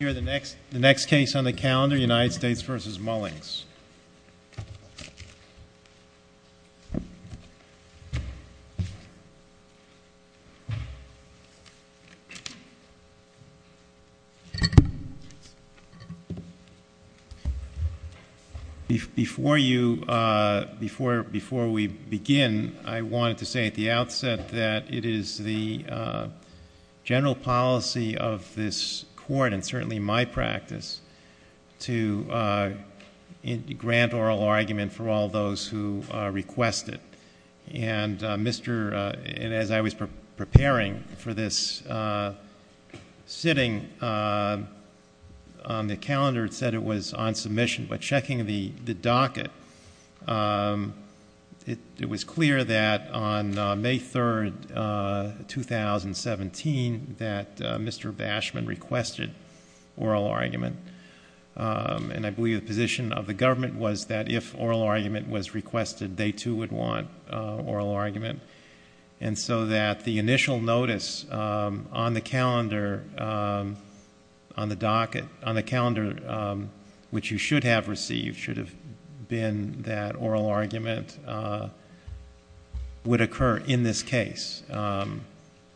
Before we begin, I wanted to say at the outset that it is the general policy of this court, and certainly my practice, to grant oral argument for all those who request it. And as I was preparing for this sitting on the calendar, it said it was on submission. But checking the docket, it was clear that on May 3rd, 2017, that Mr. Bashman requested oral argument. And I believe the position of the government was that if oral argument was requested, they, too, would want oral argument. And so that the initial notice on the calendar, which you should have received, should have been that oral argument would occur in this case.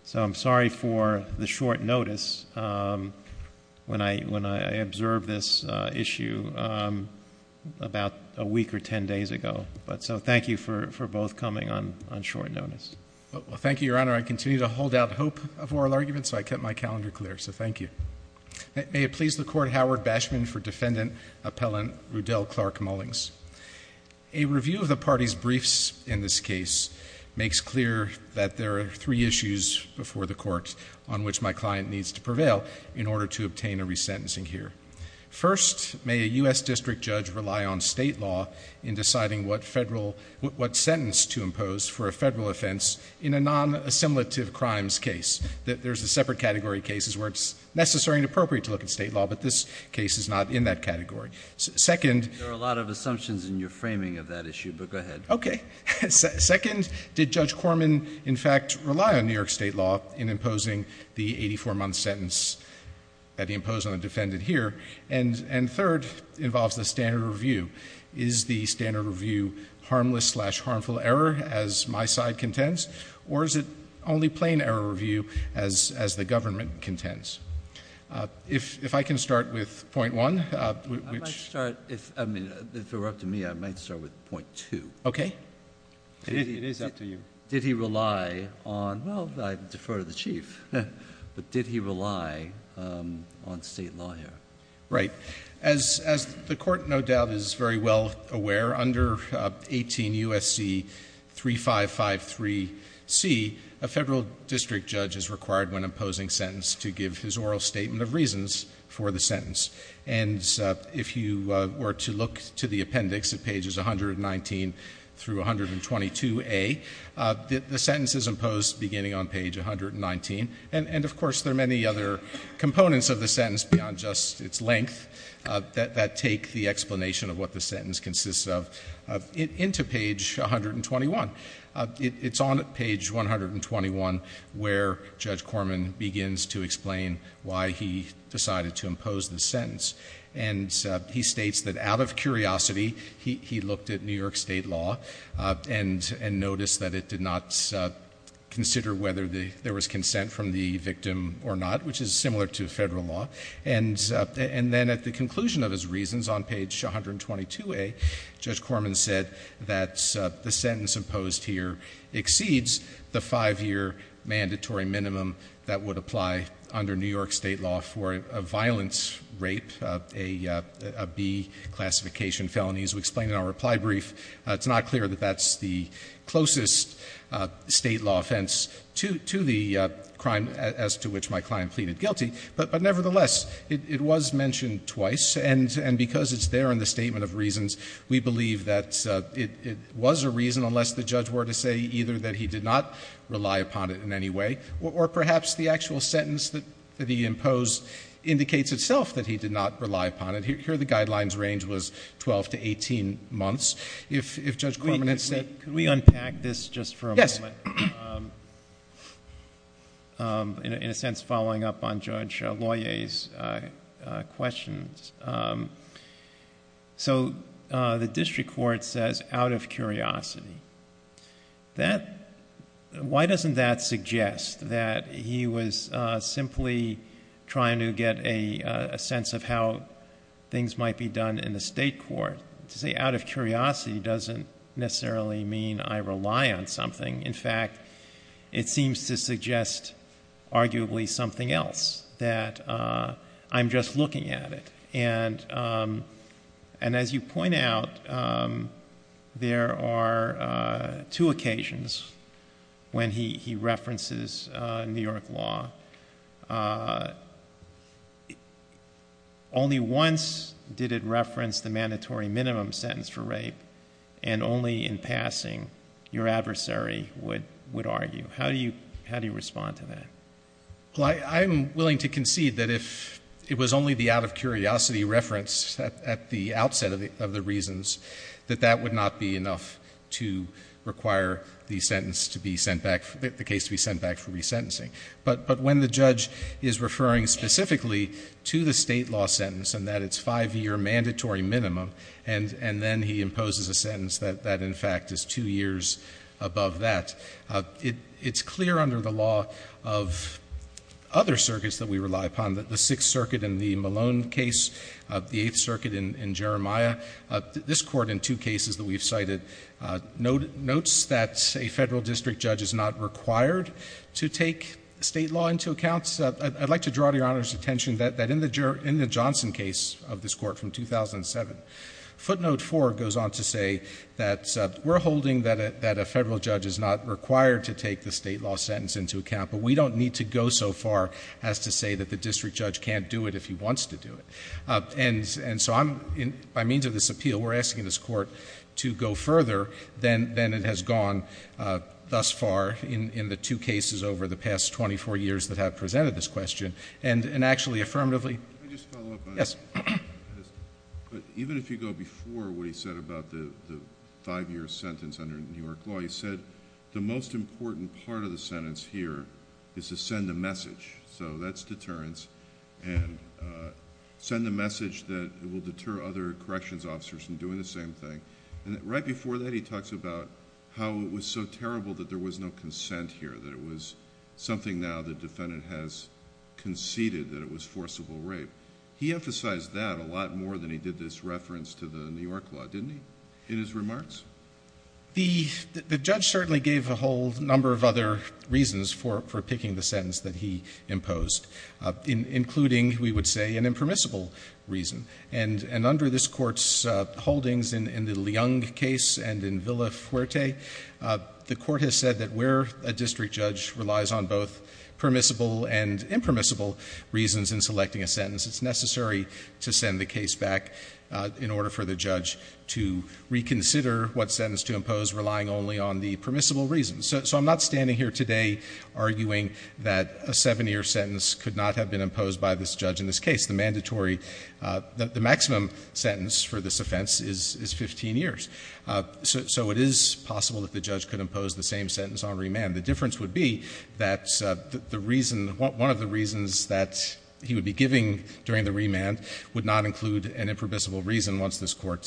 So I'm sorry for the short notice when I observed this issue about a week or ten days ago. But so thank you for both coming on short notice. Well, thank you, Your Honor. I continue to hold out hope of oral argument, so I kept my calendar clear. So thank you. May it please the Court, Howard Bashman for Defendant Appellant Rudell Clark Mullings. A review of the party's briefs in this case makes clear that there are three issues before the Court on which my client needs to prevail in order to obtain a resentencing here. First, may a US district judge rely on state law in deciding what federal, what sentence to impose for a federal offense in a non-assimilative crimes case. That there's a separate category of cases where it's necessary and appropriate to look at state law, but this case is not in that category. Second- There are a lot of assumptions in your framing of that issue, but go ahead. Okay. Second, did Judge Corman in fact rely on New York state law in imposing the 84 month sentence that he imposed on the defendant here? And third, involves the standard review. Is the standard review harmless slash harmful error as my side contends? Or is it only plain error review as the government contends? If I can start with point one, which- I might start, if it were up to me, I might start with point two. Okay. It is up to you. Did he rely on, well, I defer to the Chief, but did he rely on state law here? Right. As the court, no doubt, is very well aware, under 18 USC 3553C, a federal district judge is required when imposing sentence to give his oral statement of reasons for the sentence. And if you were to look to the appendix at pages 119 through 122A, the sentence is imposed beginning on page 119. And of course, there are many other components of the sentence beyond just its length that take the explanation of what the sentence consists of into page 121. It's on page 121 where Judge Corman begins to explain why he decided to impose the sentence. And he states that out of curiosity, he looked at New York state law and noticed that it did not consider whether there was consent from the victim or not, which is similar to federal law. And then at the conclusion of his reasons on page 122A, Judge Corman said that the sentence imposed here exceeds the five year mandatory minimum that would apply under New York state law for a violence rape, a B classification felony, as we explained in our reply brief. It's not clear that that's the closest state law offense to the crime as to which my client pleaded guilty. But nevertheless, it was mentioned twice, and because it's there in the statement of reasons, we believe that it was a reason unless the judge were to say either that he did not rely upon it in any way. Or perhaps the actual sentence that he imposed indicates itself that he did not rely upon it. Here the guidelines range was 12 to 18 months. If Judge Corman had said- Could we unpack this just for a moment? Yes. In a sense, following up on Judge Loyer's questions. So the district court says out of curiosity. Why doesn't that suggest that he was simply trying to get a sense of how things might be done in the state court? To say out of curiosity doesn't necessarily mean I rely on something. In fact, it seems to suggest arguably something else, that I'm just looking at it. And as you point out, there are two occasions when he references New York law. Only once did it reference the mandatory minimum sentence for rape. And only in passing, your adversary would argue. How do you respond to that? Well, I'm willing to concede that if it was only the out of curiosity reference at the outset of the reasons. That that would not be enough to require the sentence to be sent back, the case to be sent back for resentencing. But when the judge is referring specifically to the state law sentence and that it's five year mandatory minimum, and then he imposes a sentence that in fact is two years above that. It's clear under the law of other circuits that we rely upon, that the Sixth Circuit in the Malone case, the Eighth Circuit in Jeremiah. This court in two cases that we've cited notes that a federal district judge is not required to take state law into account. I'd like to draw to your Honor's attention that in the Johnson case of this court from 2007, footnote four goes on to say that we're holding that a federal judge is not required to take the state law sentence into account. But we don't need to go so far as to say that the district judge can't do it if he wants to do it. And so by means of this appeal, we're asking this court to go further than it has gone thus far in the two cases over the past 24 years that have presented this question. And actually affirmatively- Even if you go before what he said about the five year sentence under New York law, he said the most important part of the sentence here is to send a message. So that's deterrence, and send a message that will deter other corrections officers from doing the same thing. And right before that, he talks about how it was so terrible that there was no consent here, that it was something now the defendant has conceded that it was forcible rape. He emphasized that a lot more than he did this reference to the New York law, didn't he, in his remarks? The judge certainly gave a whole number of other reasons for picking the sentence that he imposed, including, we would say, an impermissible reason. And under this court's holdings in the Leung case and in Villa Fuerte, the court has said that where a district judge relies on both permissible and impermissible reasons in selecting a sentence, it's necessary to send the case back in order for the judge to reconsider what sentence to impose, relying only on the permissible reasons. So I'm not standing here today arguing that a seven year sentence could not have been imposed by this judge in this case. The mandatory, the maximum sentence for this offense is 15 years. So it is possible that the judge could impose the same sentence on remand. The difference would be that the reason, one of the reasons that he would be giving during the remand would not include an impermissible reason once this court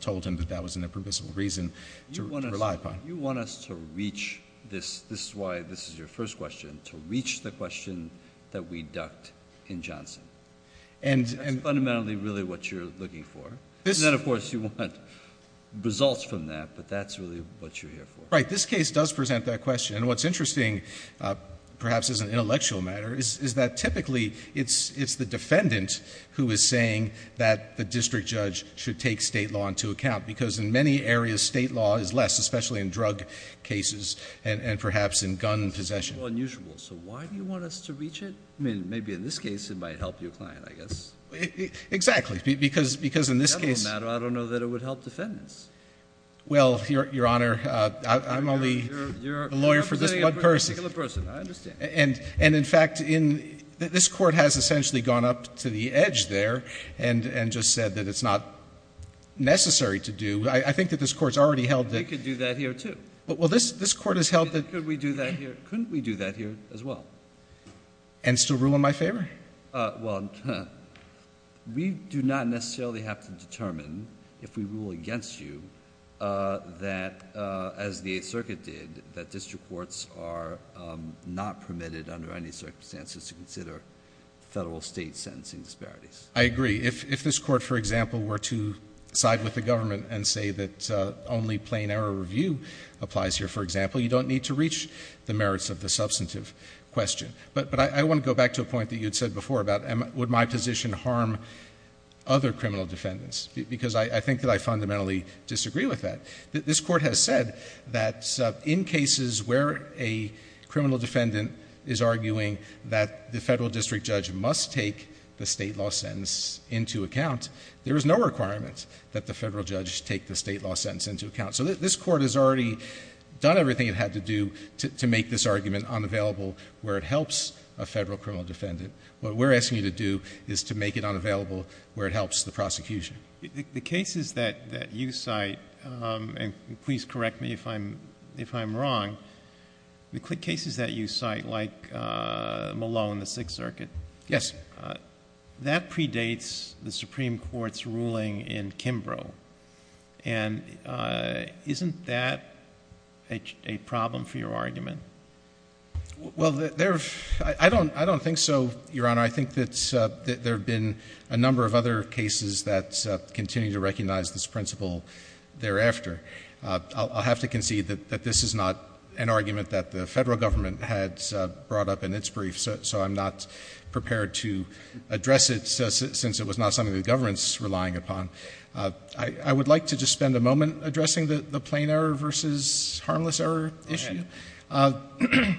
told him that that was an impermissible reason to rely upon. You want us to reach this, this is why this is your first question, to reach the question that we ducked in Johnson. And that's fundamentally really what you're looking for. And then of course you want results from that, but that's really what you're here for. Right, this case does present that question. And what's interesting, perhaps as an intellectual matter, is that typically it's the defendant who is saying that the district judge should take state law into account. Because in many areas state law is less, especially in drug cases and perhaps in gun possession. Unusual, so why do you want us to reach it? I mean, maybe in this case it might help your client, I guess. Exactly, because in this case- I don't know that it would help defendants. Well, Your Honor, I'm only a lawyer for this one person. I understand. And in fact, this court has essentially gone up to the edge there and just said that it's not necessary to do. I think that this court's already held that- We could do that here, too. Well, this court has held that- Could we do that here? Couldn't we do that here as well? And still rule in my favor? Well, we do not necessarily have to determine if we rule against you that, as the Eighth Circuit did, that district courts are not permitted under any circumstances to consider federal state sentencing disparities. I agree. If this court, for example, were to side with the government and say that only plain error review applies here, for example, you don't need to reach the merits of the substantive question. But I want to go back to a point that you had said before about would my position harm other criminal defendants, because I think that I fundamentally disagree with that. This court has said that in cases where a criminal defendant is arguing that the federal district judge must take the state law sentence into account, there is no requirement that the federal judge take the state law sentence into account. So this court has already done everything it had to do to make this argument unavailable where it helps a federal criminal defendant. What we're asking you to do is to make it unavailable where it helps the prosecution. The cases that you cite, and please correct me if I'm wrong, the cases that you cite, like Malone, the Sixth Circuit- Yes. That predates the Supreme Court's ruling in Kimbrough. And isn't that a problem for your argument? Well, I don't think so, Your Honor. I think that there have been a number of other cases that continue to recognize this principle thereafter. I'll have to concede that this is not an argument that the federal government had brought up in its brief, so I'm not prepared to address it since it was not something the government's relying upon. I would like to just spend a moment addressing the plain error versus harmless error issue. The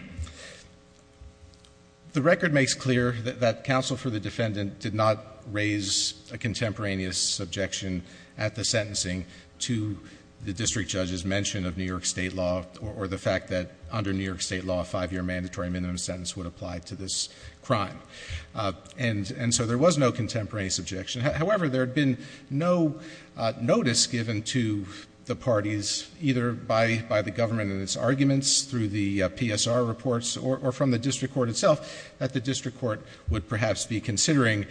record makes clear that counsel for the defendant did not raise a contemporaneous objection at the sentencing to the district judge's mention of New York state law or the fact that under New York state law, a five-year mandatory minimum sentence would apply to this crime, and so there was no contemporaneous objection. However, there had been no notice given to the parties, either by the government and its arguments through the PSR reports or from the district court itself, that the district court would perhaps be considering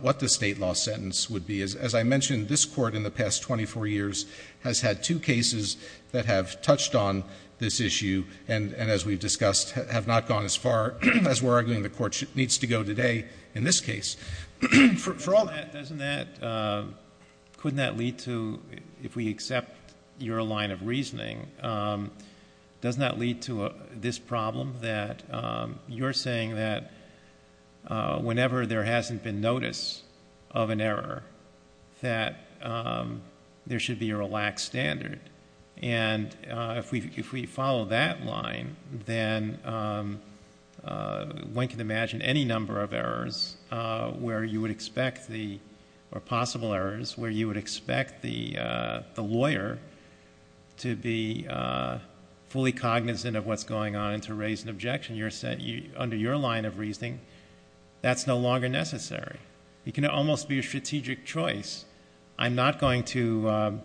what the state law sentence would be. As I mentioned, this court in the past 24 years has had two cases that have touched on this issue, and as we've discussed, have not gone as far as we're arguing the court needs to go today in this case. For all that, doesn't that, couldn't that lead to, if we accept your line of reasoning, doesn't that lead to this problem that you're saying that whenever there hasn't been notice of an error, that there should be a relaxed standard? And if we follow that line, then one can imagine any number of errors where you would expect the, or possible errors where you would expect the lawyer to be fully cognizant of what's going on and to raise an objection. Under your line of reasoning, that's no longer necessary. It can almost be a strategic choice. I'm not going to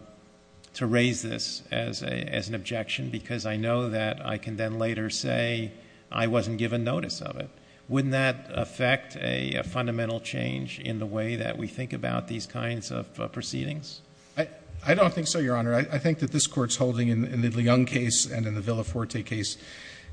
raise this as an objection because I know that I can then later say I wasn't given notice of it. Wouldn't that affect a fundamental change in the way that we think about these kinds of proceedings? I don't think so, Your Honor. I think that this Court's holding in the Leung case and in the Villafuerte case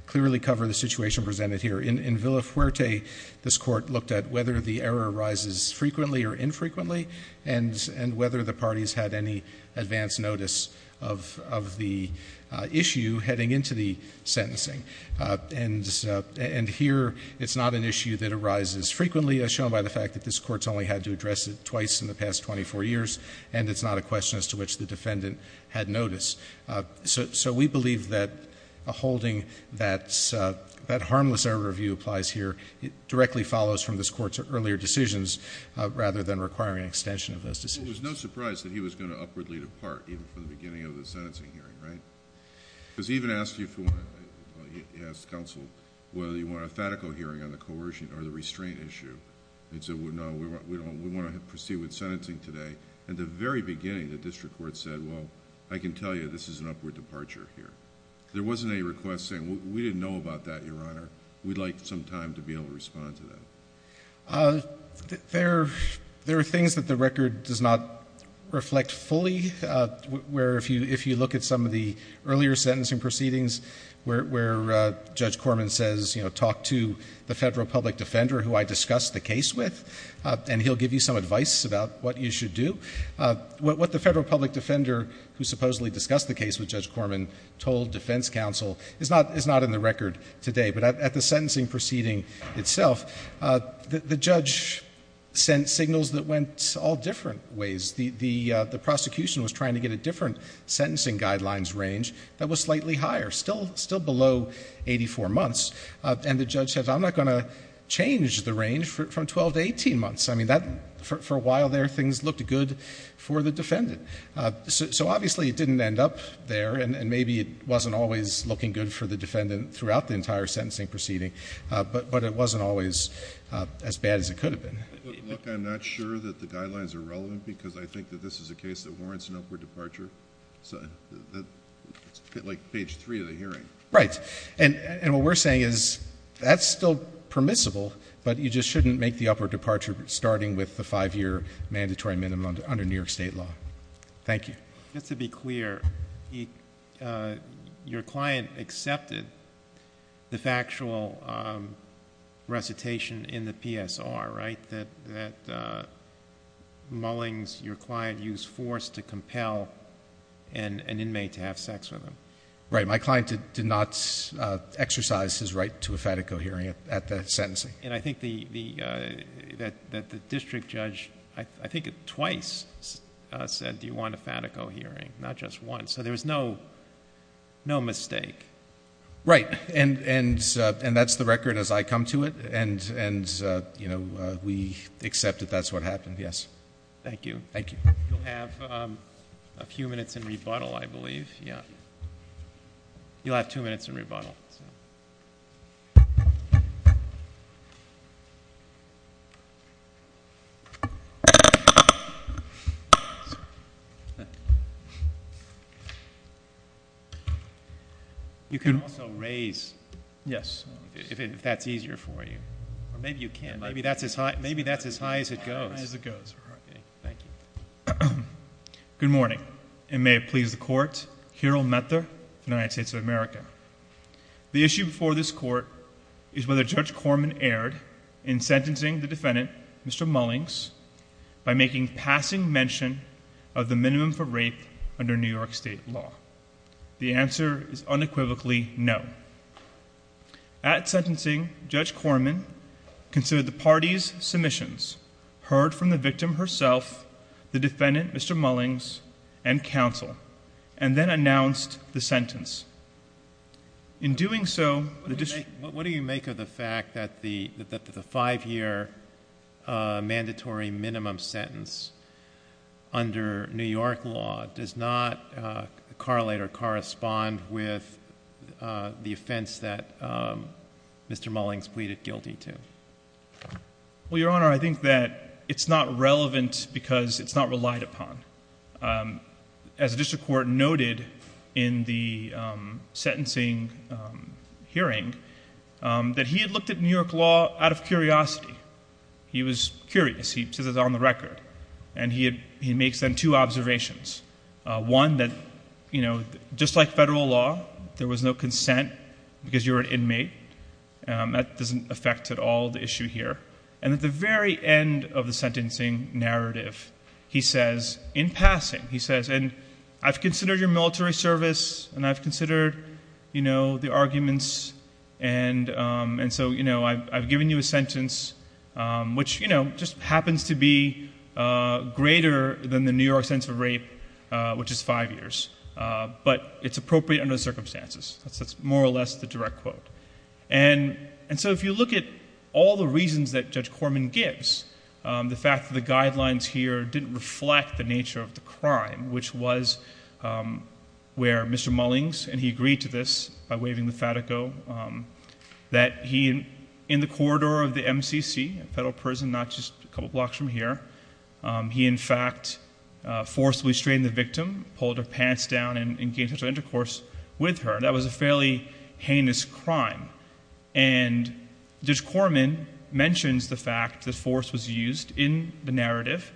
clearly cover the situation presented here. In Villafuerte, this Court looked at whether the error arises frequently or infrequently, and whether the parties had any advance notice of the issue heading into the sentencing. And here, it's not an issue that arises frequently, as shown by the fact that this Court's only had to address it twice in the past 24 years. And it's not a question as to which the defendant had notice. So we believe that holding that harmless error review applies here. It directly follows from this Court's earlier decisions, rather than requiring an extension of those decisions. It was no surprise that he was going to upwardly depart even from the beginning of the sentencing hearing, right? Because he even asked you, he asked counsel, whether you want a fatical hearing on the coercion or the restraint issue. And he said, no, we want to proceed with sentencing today. At the very beginning, the district court said, well, I can tell you this is an upward departure here. There wasn't any request saying, we didn't know about that, Your Honor. We'd like some time to be able to respond to that. There are things that the record does not reflect fully. Where if you look at some of the earlier sentencing proceedings, where Judge Corman says, talk to the federal public defender who I discussed the case with, and he'll give you some advice about what you should do. What the federal public defender who supposedly discussed the case with Judge Corman told defense counsel is not in the record today. But at the sentencing proceeding itself, the judge sent signals that went all different ways. The prosecution was trying to get a different sentencing guidelines range that was slightly higher, still below 84 months, and the judge said, I'm not going to change the range from 12 to 18 months. I mean, for a while there, things looked good for the defendant. So obviously, it didn't end up there, and maybe it wasn't always looking good for the defendant throughout the entire sentencing proceeding, but it wasn't always as bad as it could have been. Look, I'm not sure that the guidelines are relevant because I think that this is a case that warrants an upward departure. So, like page three of the hearing. Right, and what we're saying is that's still permissible, but you just shouldn't make the upward departure starting with the five year mandatory minimum under New York State law. Thank you. Just to be clear, your client accepted the factual recitation in the PSR, right? That Mullings, your client, used force to compel an inmate to have sex with him. Right, my client did not exercise his right to a Fatico hearing at the sentencing. And I think that the district judge, I think it twice, said do you want a Fatico hearing, not just once, so there was no mistake. Right, and that's the record as I come to it. And we accept that that's what happened, yes. Thank you. Thank you. You'll have a few minutes in rebuttal, I believe, yeah. You'll have two minutes in rebuttal, so. You can also raise. Yes. If that's easier for you. Or maybe you can, maybe that's as high as it goes. As it goes, all right. Thank you. Good morning, and may it please the court, Kirill Metler, United States of America. The issue before this court is whether Judge Corman erred in sentencing the defendant, Mr. Mullings, by making passing mention of the minimum for rape under New York State law. The answer is unequivocally no. At sentencing, Judge Corman considered the party's submissions, heard from the victim herself, the defendant, Mr. Mullings, and counsel, and then announced the sentence. In doing so, the district- What do you make of the fact that the five year mandatory minimum sentence under New York law does not correlate or correspond with the offense that Mr. Mullings pleaded guilty to? Well, your honor, I think that it's not relevant because it's not relied upon. As the district court noted in the sentencing hearing, that he had looked at New York law out of curiosity. He was curious. He says it's on the record. And he makes then two observations. One that, just like federal law, there was no consent because you're an inmate. That doesn't affect at all the issue here. And at the very end of the sentencing narrative, he says, in passing, he says, and I've considered your military service, and I've considered the arguments. And so I've given you a sentence which just happens to be greater than the New York sentence of rape, which is five years. But it's appropriate under the circumstances. That's more or less the direct quote. And so if you look at all the reasons that Judge Corman gives, the fact that the guidelines here didn't reflect the nature of the crime, which was where Mr. Mullings, and he agreed to this by waving the fatico, that he in the corridor of the MCC, a federal prison not just a couple blocks from here, he in fact forcibly strained the victim, pulled her pants down, and engaged in intercourse with her, that was a fairly heinous crime. And Judge Corman mentions the fact that force was used in the narrative.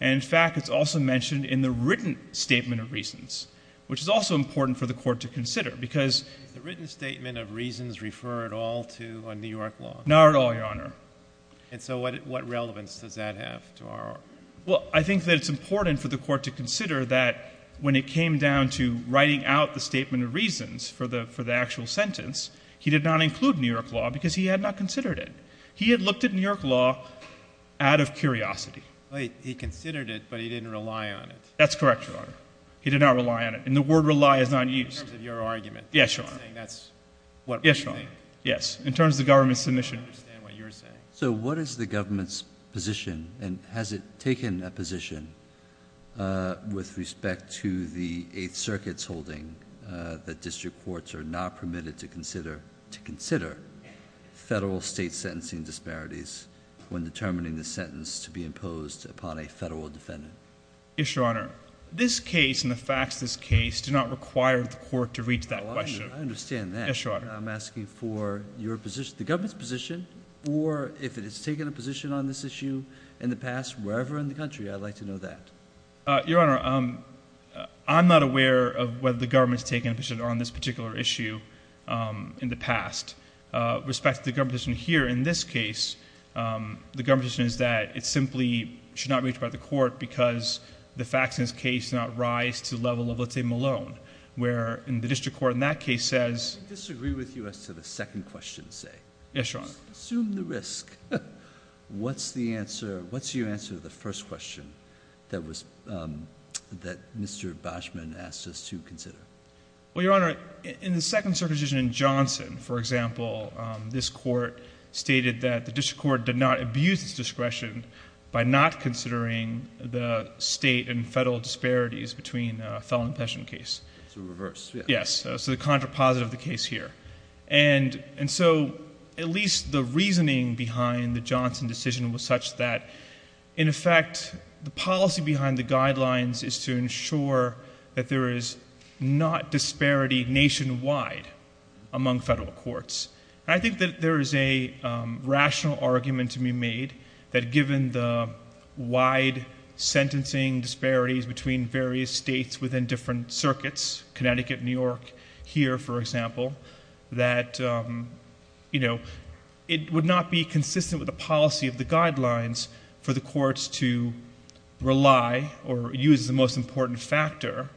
And in fact, it's also mentioned in the written statement of reasons, which is also important for the court to consider, because- Not at all, Your Honor. And so what relevance does that have to our- Well, I think that it's important for the court to consider that when it came down to writing out the statement of reasons for the actual sentence, he did not include New York law because he had not considered it. He had looked at New York law out of curiosity. He considered it, but he didn't rely on it. That's correct, Your Honor. He did not rely on it. And the word rely is not used. In terms of your argument. Yes, Your Honor. Saying that's what- Yes, Your Honor. Yes, in terms of the government's submission. I don't understand what you're saying. So what is the government's position, and has it taken a position with respect to the Eighth Circuit's holding that district courts are not permitted to consider federal state sentencing disparities when determining the sentence to be imposed upon a federal defendant? Yes, Your Honor. This case and the facts of this case do not require the court to reach that question. I understand that. Yes, Your Honor. I'm asking for the government's position, or if it has taken a position on this issue in the past, wherever in the country, I'd like to know that. Your Honor, I'm not aware of whether the government's taken a position on this particular issue in the past. With respect to the government's position here in this case, the government's position is that it simply should not reach the court because the facts in this case do not rise to the level of, let's say, Malone, where in the district court in that case says- I disagree with you as to the second question, say. Yes, Your Honor. Assume the risk. What's the answer? What's your answer to the first question that Mr. Boschman asked us to consider? Well, Your Honor, in the Second Circuit decision in Johnson, for example, this court stated that the district court did not abuse its discretion by not considering the state and federal disparities between the Felon and Pescion case. So reverse. Yes. So the contrapositive of the case here. And so at least the reasoning behind the Johnson decision was such that, in effect, the policy behind the guidelines is to ensure that there is not disparity nationwide among federal courts. I think that there is a rational argument to be made that given the wide sentencing disparities between various states within different circuits, Connecticut, New York, here, for example, that it would not be consistent with the policy of the guidelines for the courts to rely or use the most important factor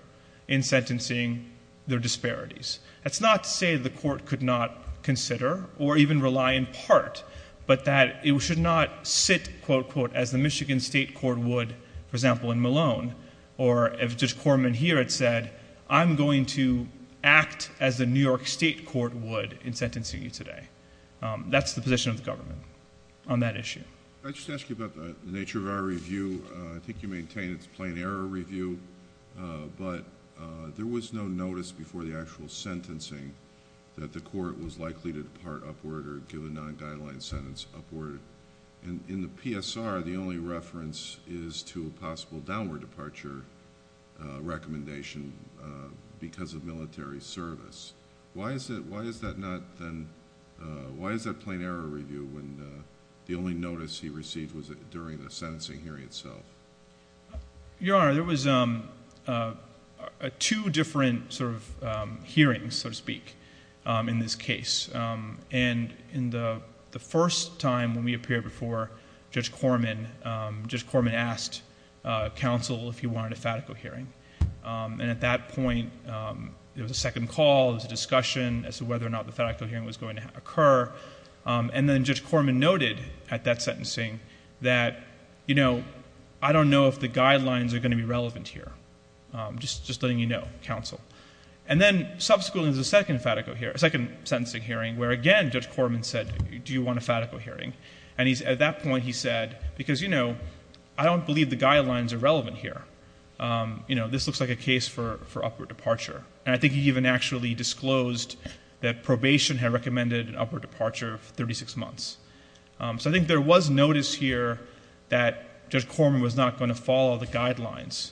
in sentencing their disparities. That's not to say the court could not consider or even rely in part, but that it should not sit, quote, unquote, as the Michigan state court would, for example, in Malone. Or if this courtmen here had said, I'm going to act as the New York state court would in sentencing you today. That's the position of the government on that issue. I'd just ask you about the nature of our review. I think you maintain it's a plain error review. But there was no notice before the actual sentencing that the court was likely to depart upward or give a non-guideline sentence upward. In the PSR, the only reference is to a possible downward departure recommendation because of military service. Why is that not then... Why is that plain error review when the only notice he received was during the sentencing hearing itself? Your Honor, there was two different hearings, so to speak, in this case. In the first time when we appeared before Judge Corman, Judge Corman asked counsel if he wanted a fatico hearing. At that point, there was a second call, there was a discussion as to whether or not the fatico hearing was going to occur. Then Judge Corman noted at that sentencing that, you know, I don't know if the guidelines are going to be relevant here. Just letting you know, counsel. Then, subsequently, there's a second sentencing hearing where, again, Judge Corman said, do you want a fatico hearing? At that point, he said, because, you know, I don't believe the guidelines are relevant here. This looks like a case for upward departure. I think he even actually disclosed that probation had recommended an upward departure of thirty-six months. I think there was notice here that Judge Corman was not going to follow the guidelines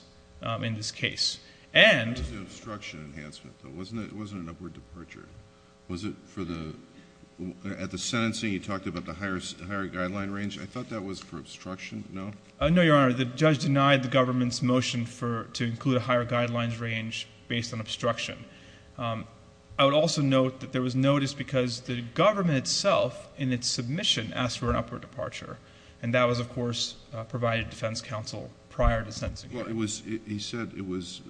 in this case. And... It was an obstruction enhancement, though, wasn't it? It wasn't an upward departure. Was it for the... at the sentencing, you talked about the higher guideline range. I thought that was for obstruction. No? No, Your Honor. The judge denied the government's motion to include a higher guidelines range based on obstruction. I would also note that there was notice because the government itself in its submission asked for an upward departure, and that was, of course, provided defense counsel prior to sentencing hearing. Well, it was... he said it was...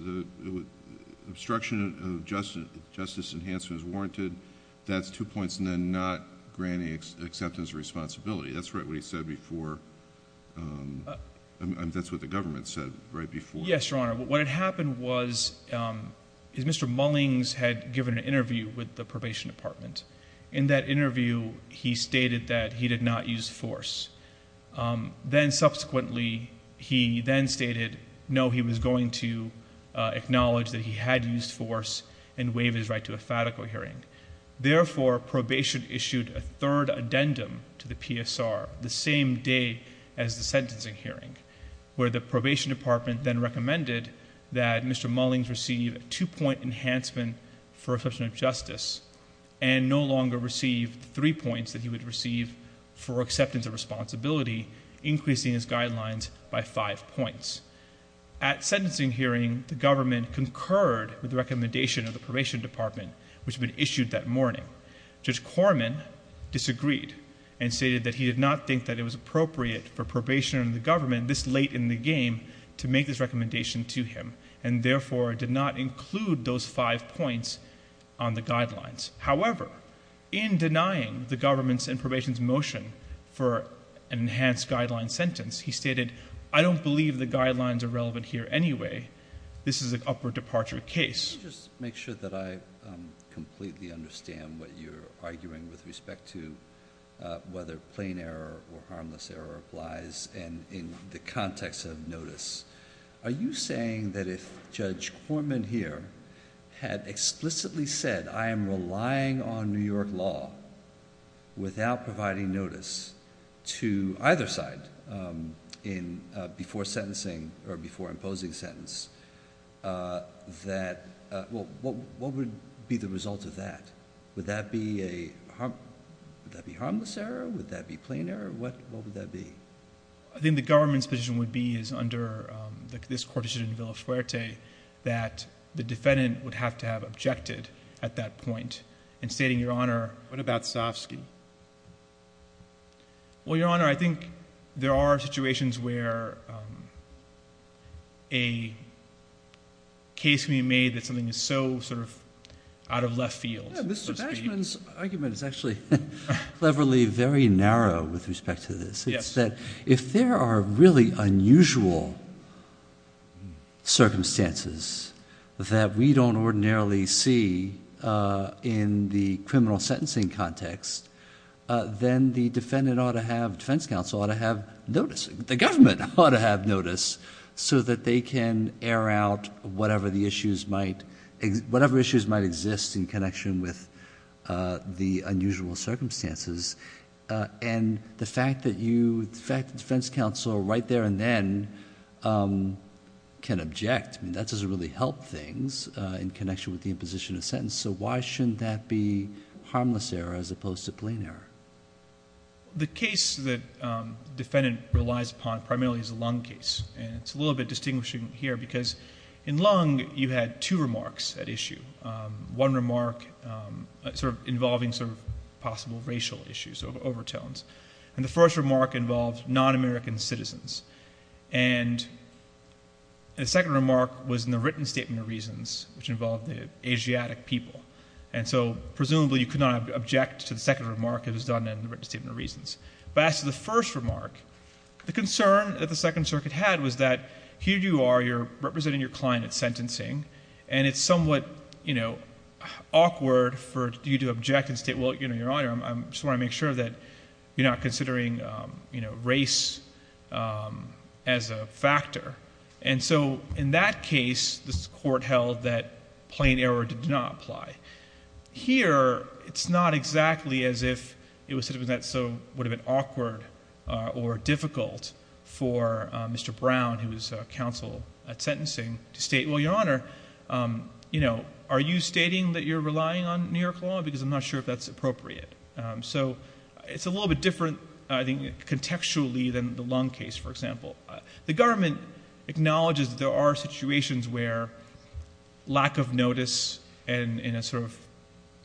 obstruction of justice enhancement is warranted. That's two points, and then not granting acceptance or responsibility. That's right what he said before. That's what the government said right before. Yes, Your Honor. What had happened was Mr. Mullings had given an interview with the Probation Department. In that interview, he stated that he did not use force. Then, subsequently, he then stated, no, he was going to acknowledge that he had used force and waive his right to a fatico hearing. Therefore, probation issued a third addendum to the PSR the same day as the sentencing hearing, where the Probation Department then recommended that Mr. Mullings receive a two-point enhancement for obstruction of justice, and no longer receive three points that he would receive for acceptance or responsibility, increasing his guidelines by five points. At sentencing hearing, the government concurred with the recommendation of the Probation Department, which had been issued that morning. Judge Corman disagreed and stated that he did not think that it was appropriate for probation under the government, this late in the game, to make this recommendation to him, and therefore, did not include those five points on the guidelines. However, in denying the government's and probation's motion for an enhanced guideline sentence, he stated, I don't believe the guidelines are relevant here anyway. This is an upward departure case. Just to make sure that I completely understand what you're arguing with respect to whether plain error or harmless error applies, and in the context of notice, are you saying that if Judge Corman here had explicitly said, I am relying on New York law without providing notice to either side before sentencing or before imposing sentence, that... what would be the result of that? Would that be harmless error? Would that be plain error? What would that be? I think the government's position would be is under this provision in Villafuerte that the defendant would have to have objected at that point, and stating, Your Honor... What about Sosovsky? Well, Your Honor, I think there are situations where a case can be made that something is so sort of out of left field. Mr. Batchman's argument is actually cleverly very narrow with respect to this. It's that if there are really unusual circumstances that we don't ordinarily see in the criminal sentencing context, then the defendant ought to have... defense counsel ought to have notice. The government ought to have notice so that they can air out whatever the issues might... whatever issues might exist in connection with the unusual circumstances. The fact that defense counsel right there and then can object, that doesn't really help things in connection with the imposition of sentence. Why shouldn't that be harmless error as opposed to plain error? The case that defendant relies upon primarily is the Lung case. It's a little bit distinguishing here because in Lung, you had two remarks at issue. One remark sort of involving sort of possible racial issues or overtones. The first remark involved non-American citizens. The second remark was in the written statement of reasons, which involved the Asiatic people. Presumably, you could not object to the second remark that was done in the written statement of reasons. But as to the first remark, the concern that the Second Circuit had was that here you are, you're representing your client at sentencing, and it's somewhat awkward for you to object and state, well, Your Honor, I just want to make sure that you're not considering race as a factor. In that case, this court held that plain error did not apply. Here, it's not exactly as if it would have been awkward or difficult for Mr. Brown, who was counsel at sentencing, to state, well, Your Honor, are you stating that you're relying on New York law? Because I'm not sure if that's appropriate. So it's a little bit different, I think, contextually than the Lung case, for example. The government acknowledges there are situations where lack of notice and in a sort of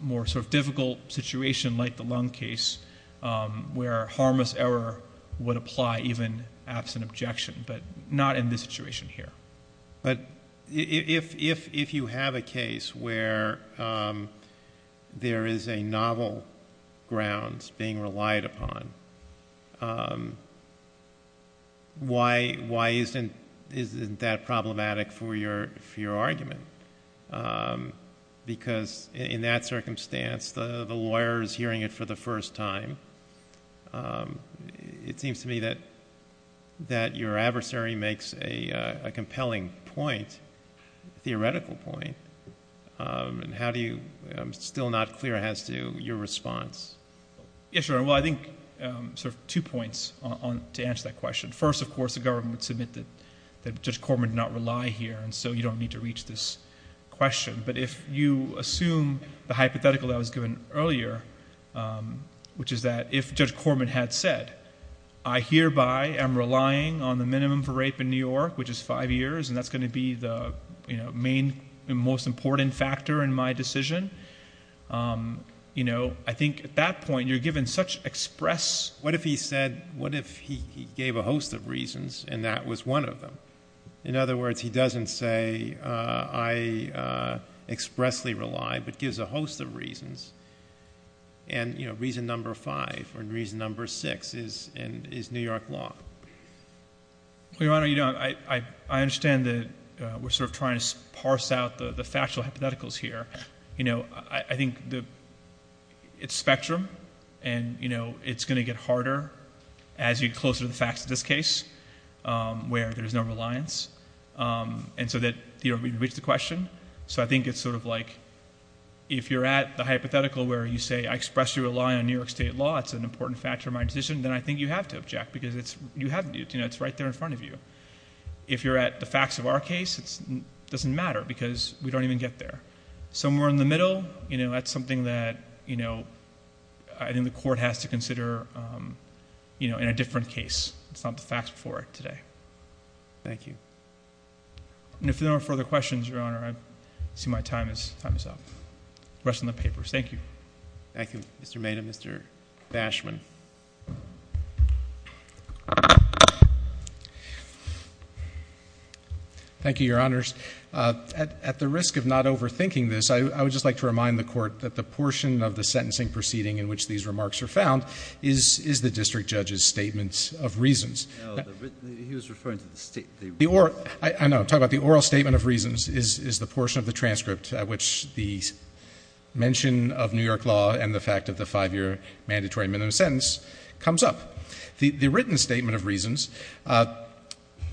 more sort of difficult situation like the Lung case, where harmless error would apply even absent objection, but not in this situation here. But if you have a case where there is a novel grounds being relied upon, why isn't that problematic for your argument? Because in that circumstance, the lawyer is hearing it for the first time. It seems to me that your adversary makes a compelling point, theoretical point, and I'm still not clear as to your response. Yes, Your Honor. Well, I think sort of two points to answer that question. First, of course, the government would submit that Judge Corman did not rely here, and so you don't need to reach this question. But if you assume the hypothetical that was given earlier, which is that if Judge Corman had said, I hereby am relying on the minimum for rape in New York, which is five years, and that's going to be the main and most important factor in my decision, I think at that point you're given such express... What if he said... what if he gave a host of reasons and that was one of them? In other words, he doesn't say, I expressly rely, but gives a host of reasons, and reason number five or reason number six is New York law. Well, Your Honor, I understand that we're sort of trying to parse out the factual hypotheticals here. I think it's spectrum, and it's going to get harder as you get closer to the alliance, and so that we've reached the question. I think it's sort of like if you're at the hypothetical where you say I expressly rely on New York State law, it's an important factor in my decision, then I think you have to object because you have to, it's right there in front of you. If you're at the facts of our case, it doesn't matter because we don't even get there. Somewhere in the middle, that's something that I think the court has to consider in a different case. It's not the facts before it today. Thank you. If there are no further questions, Your Honor, I see my time is up. Rest of the papers. Thank you. Thank you, Mr. Maynard. Mr. Bashman. Thank you, Your Honors. At the risk of not overthinking this, I would just like to remind the court that the portion of the sentencing proceeding in which these remarks are found is the district judge's statements of reasons. No, he was referring to the oral. I know. I'm talking about the oral statement of reasons is the portion of the transcript at which the mention of New York law and the fact of the five-year mandatory minimum sentence comes up. The written statement of reasons,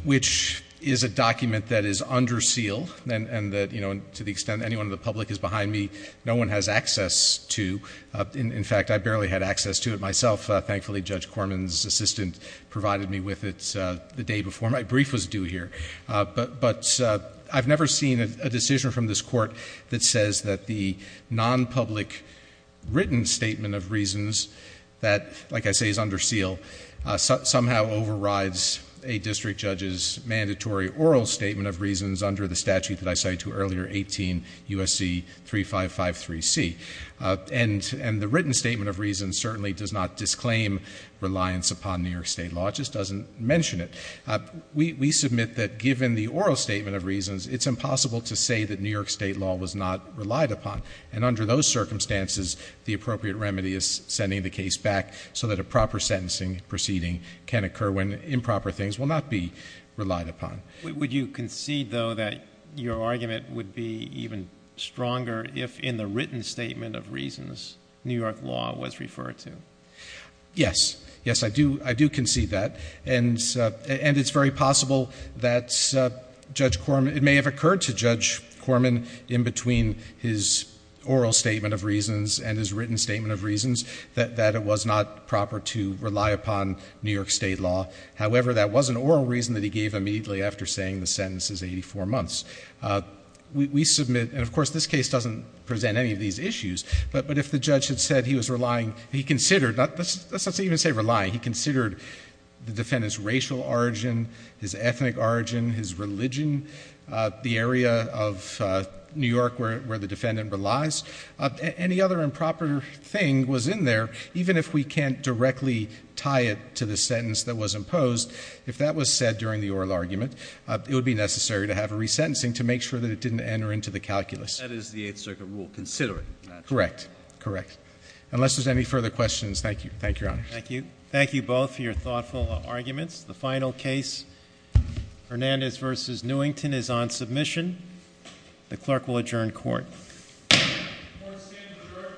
which is a document that is under seal and that, you know, to the extent anyone in the public is behind me, no one has access to. In fact, I barely had access to it myself. Thankfully, Judge Corman's assistant provided me with it the day before my brief was due here. But I've never seen a decision from this court that says that the non-public written statement of reasons that, like I say, is under seal, somehow overrides a district judge's mandatory oral statement of reasons under the statute that I cited earlier, 18 U.S.C. 3553C. And the written statement of reasons certainly does not disclaim reliance upon New York state law. It just doesn't mention it. We submit that given the oral statement of reasons, it's impossible to say that New York state law was not relied upon. And under those circumstances, the appropriate remedy is sending the case back so that a proper sentencing proceeding can occur when improper things will not be relied upon. Would you concede, though, that your argument would be even stronger if in the written statement of reasons, New York law was referred to? Yes. Yes, I do concede that. And it's very possible that Judge Corman, it may have occurred to Judge Corman in between his oral statement of reasons and his written statement of reasons that it was not proper to rely upon New York state law. However, that was an oral reason that he gave immediately after saying the sentence is 84 months. We submit, and of course this case doesn't present any of these issues, but if the judge had said he was relying, he considered, let's not even say relying, he considered the defendant's racial origin, his ethnic origin, his religion, the area of New York where the defendant relies, any other improper thing was in there, even if we can't directly tie it to the sentence that was imposed, if that was said during the oral argument, it would be necessary to have a resentencing to make sure that it didn't enter into the calculus. That is the Eighth Circuit rule, considering that. Correct. Correct. Unless there's any further questions, thank you. Thank you, Your Honor. Thank you. Thank you both for your thoughtful arguments. The final case, Hernandez v. Newington, is on submission. The clerk will adjourn court. Court is adjourned.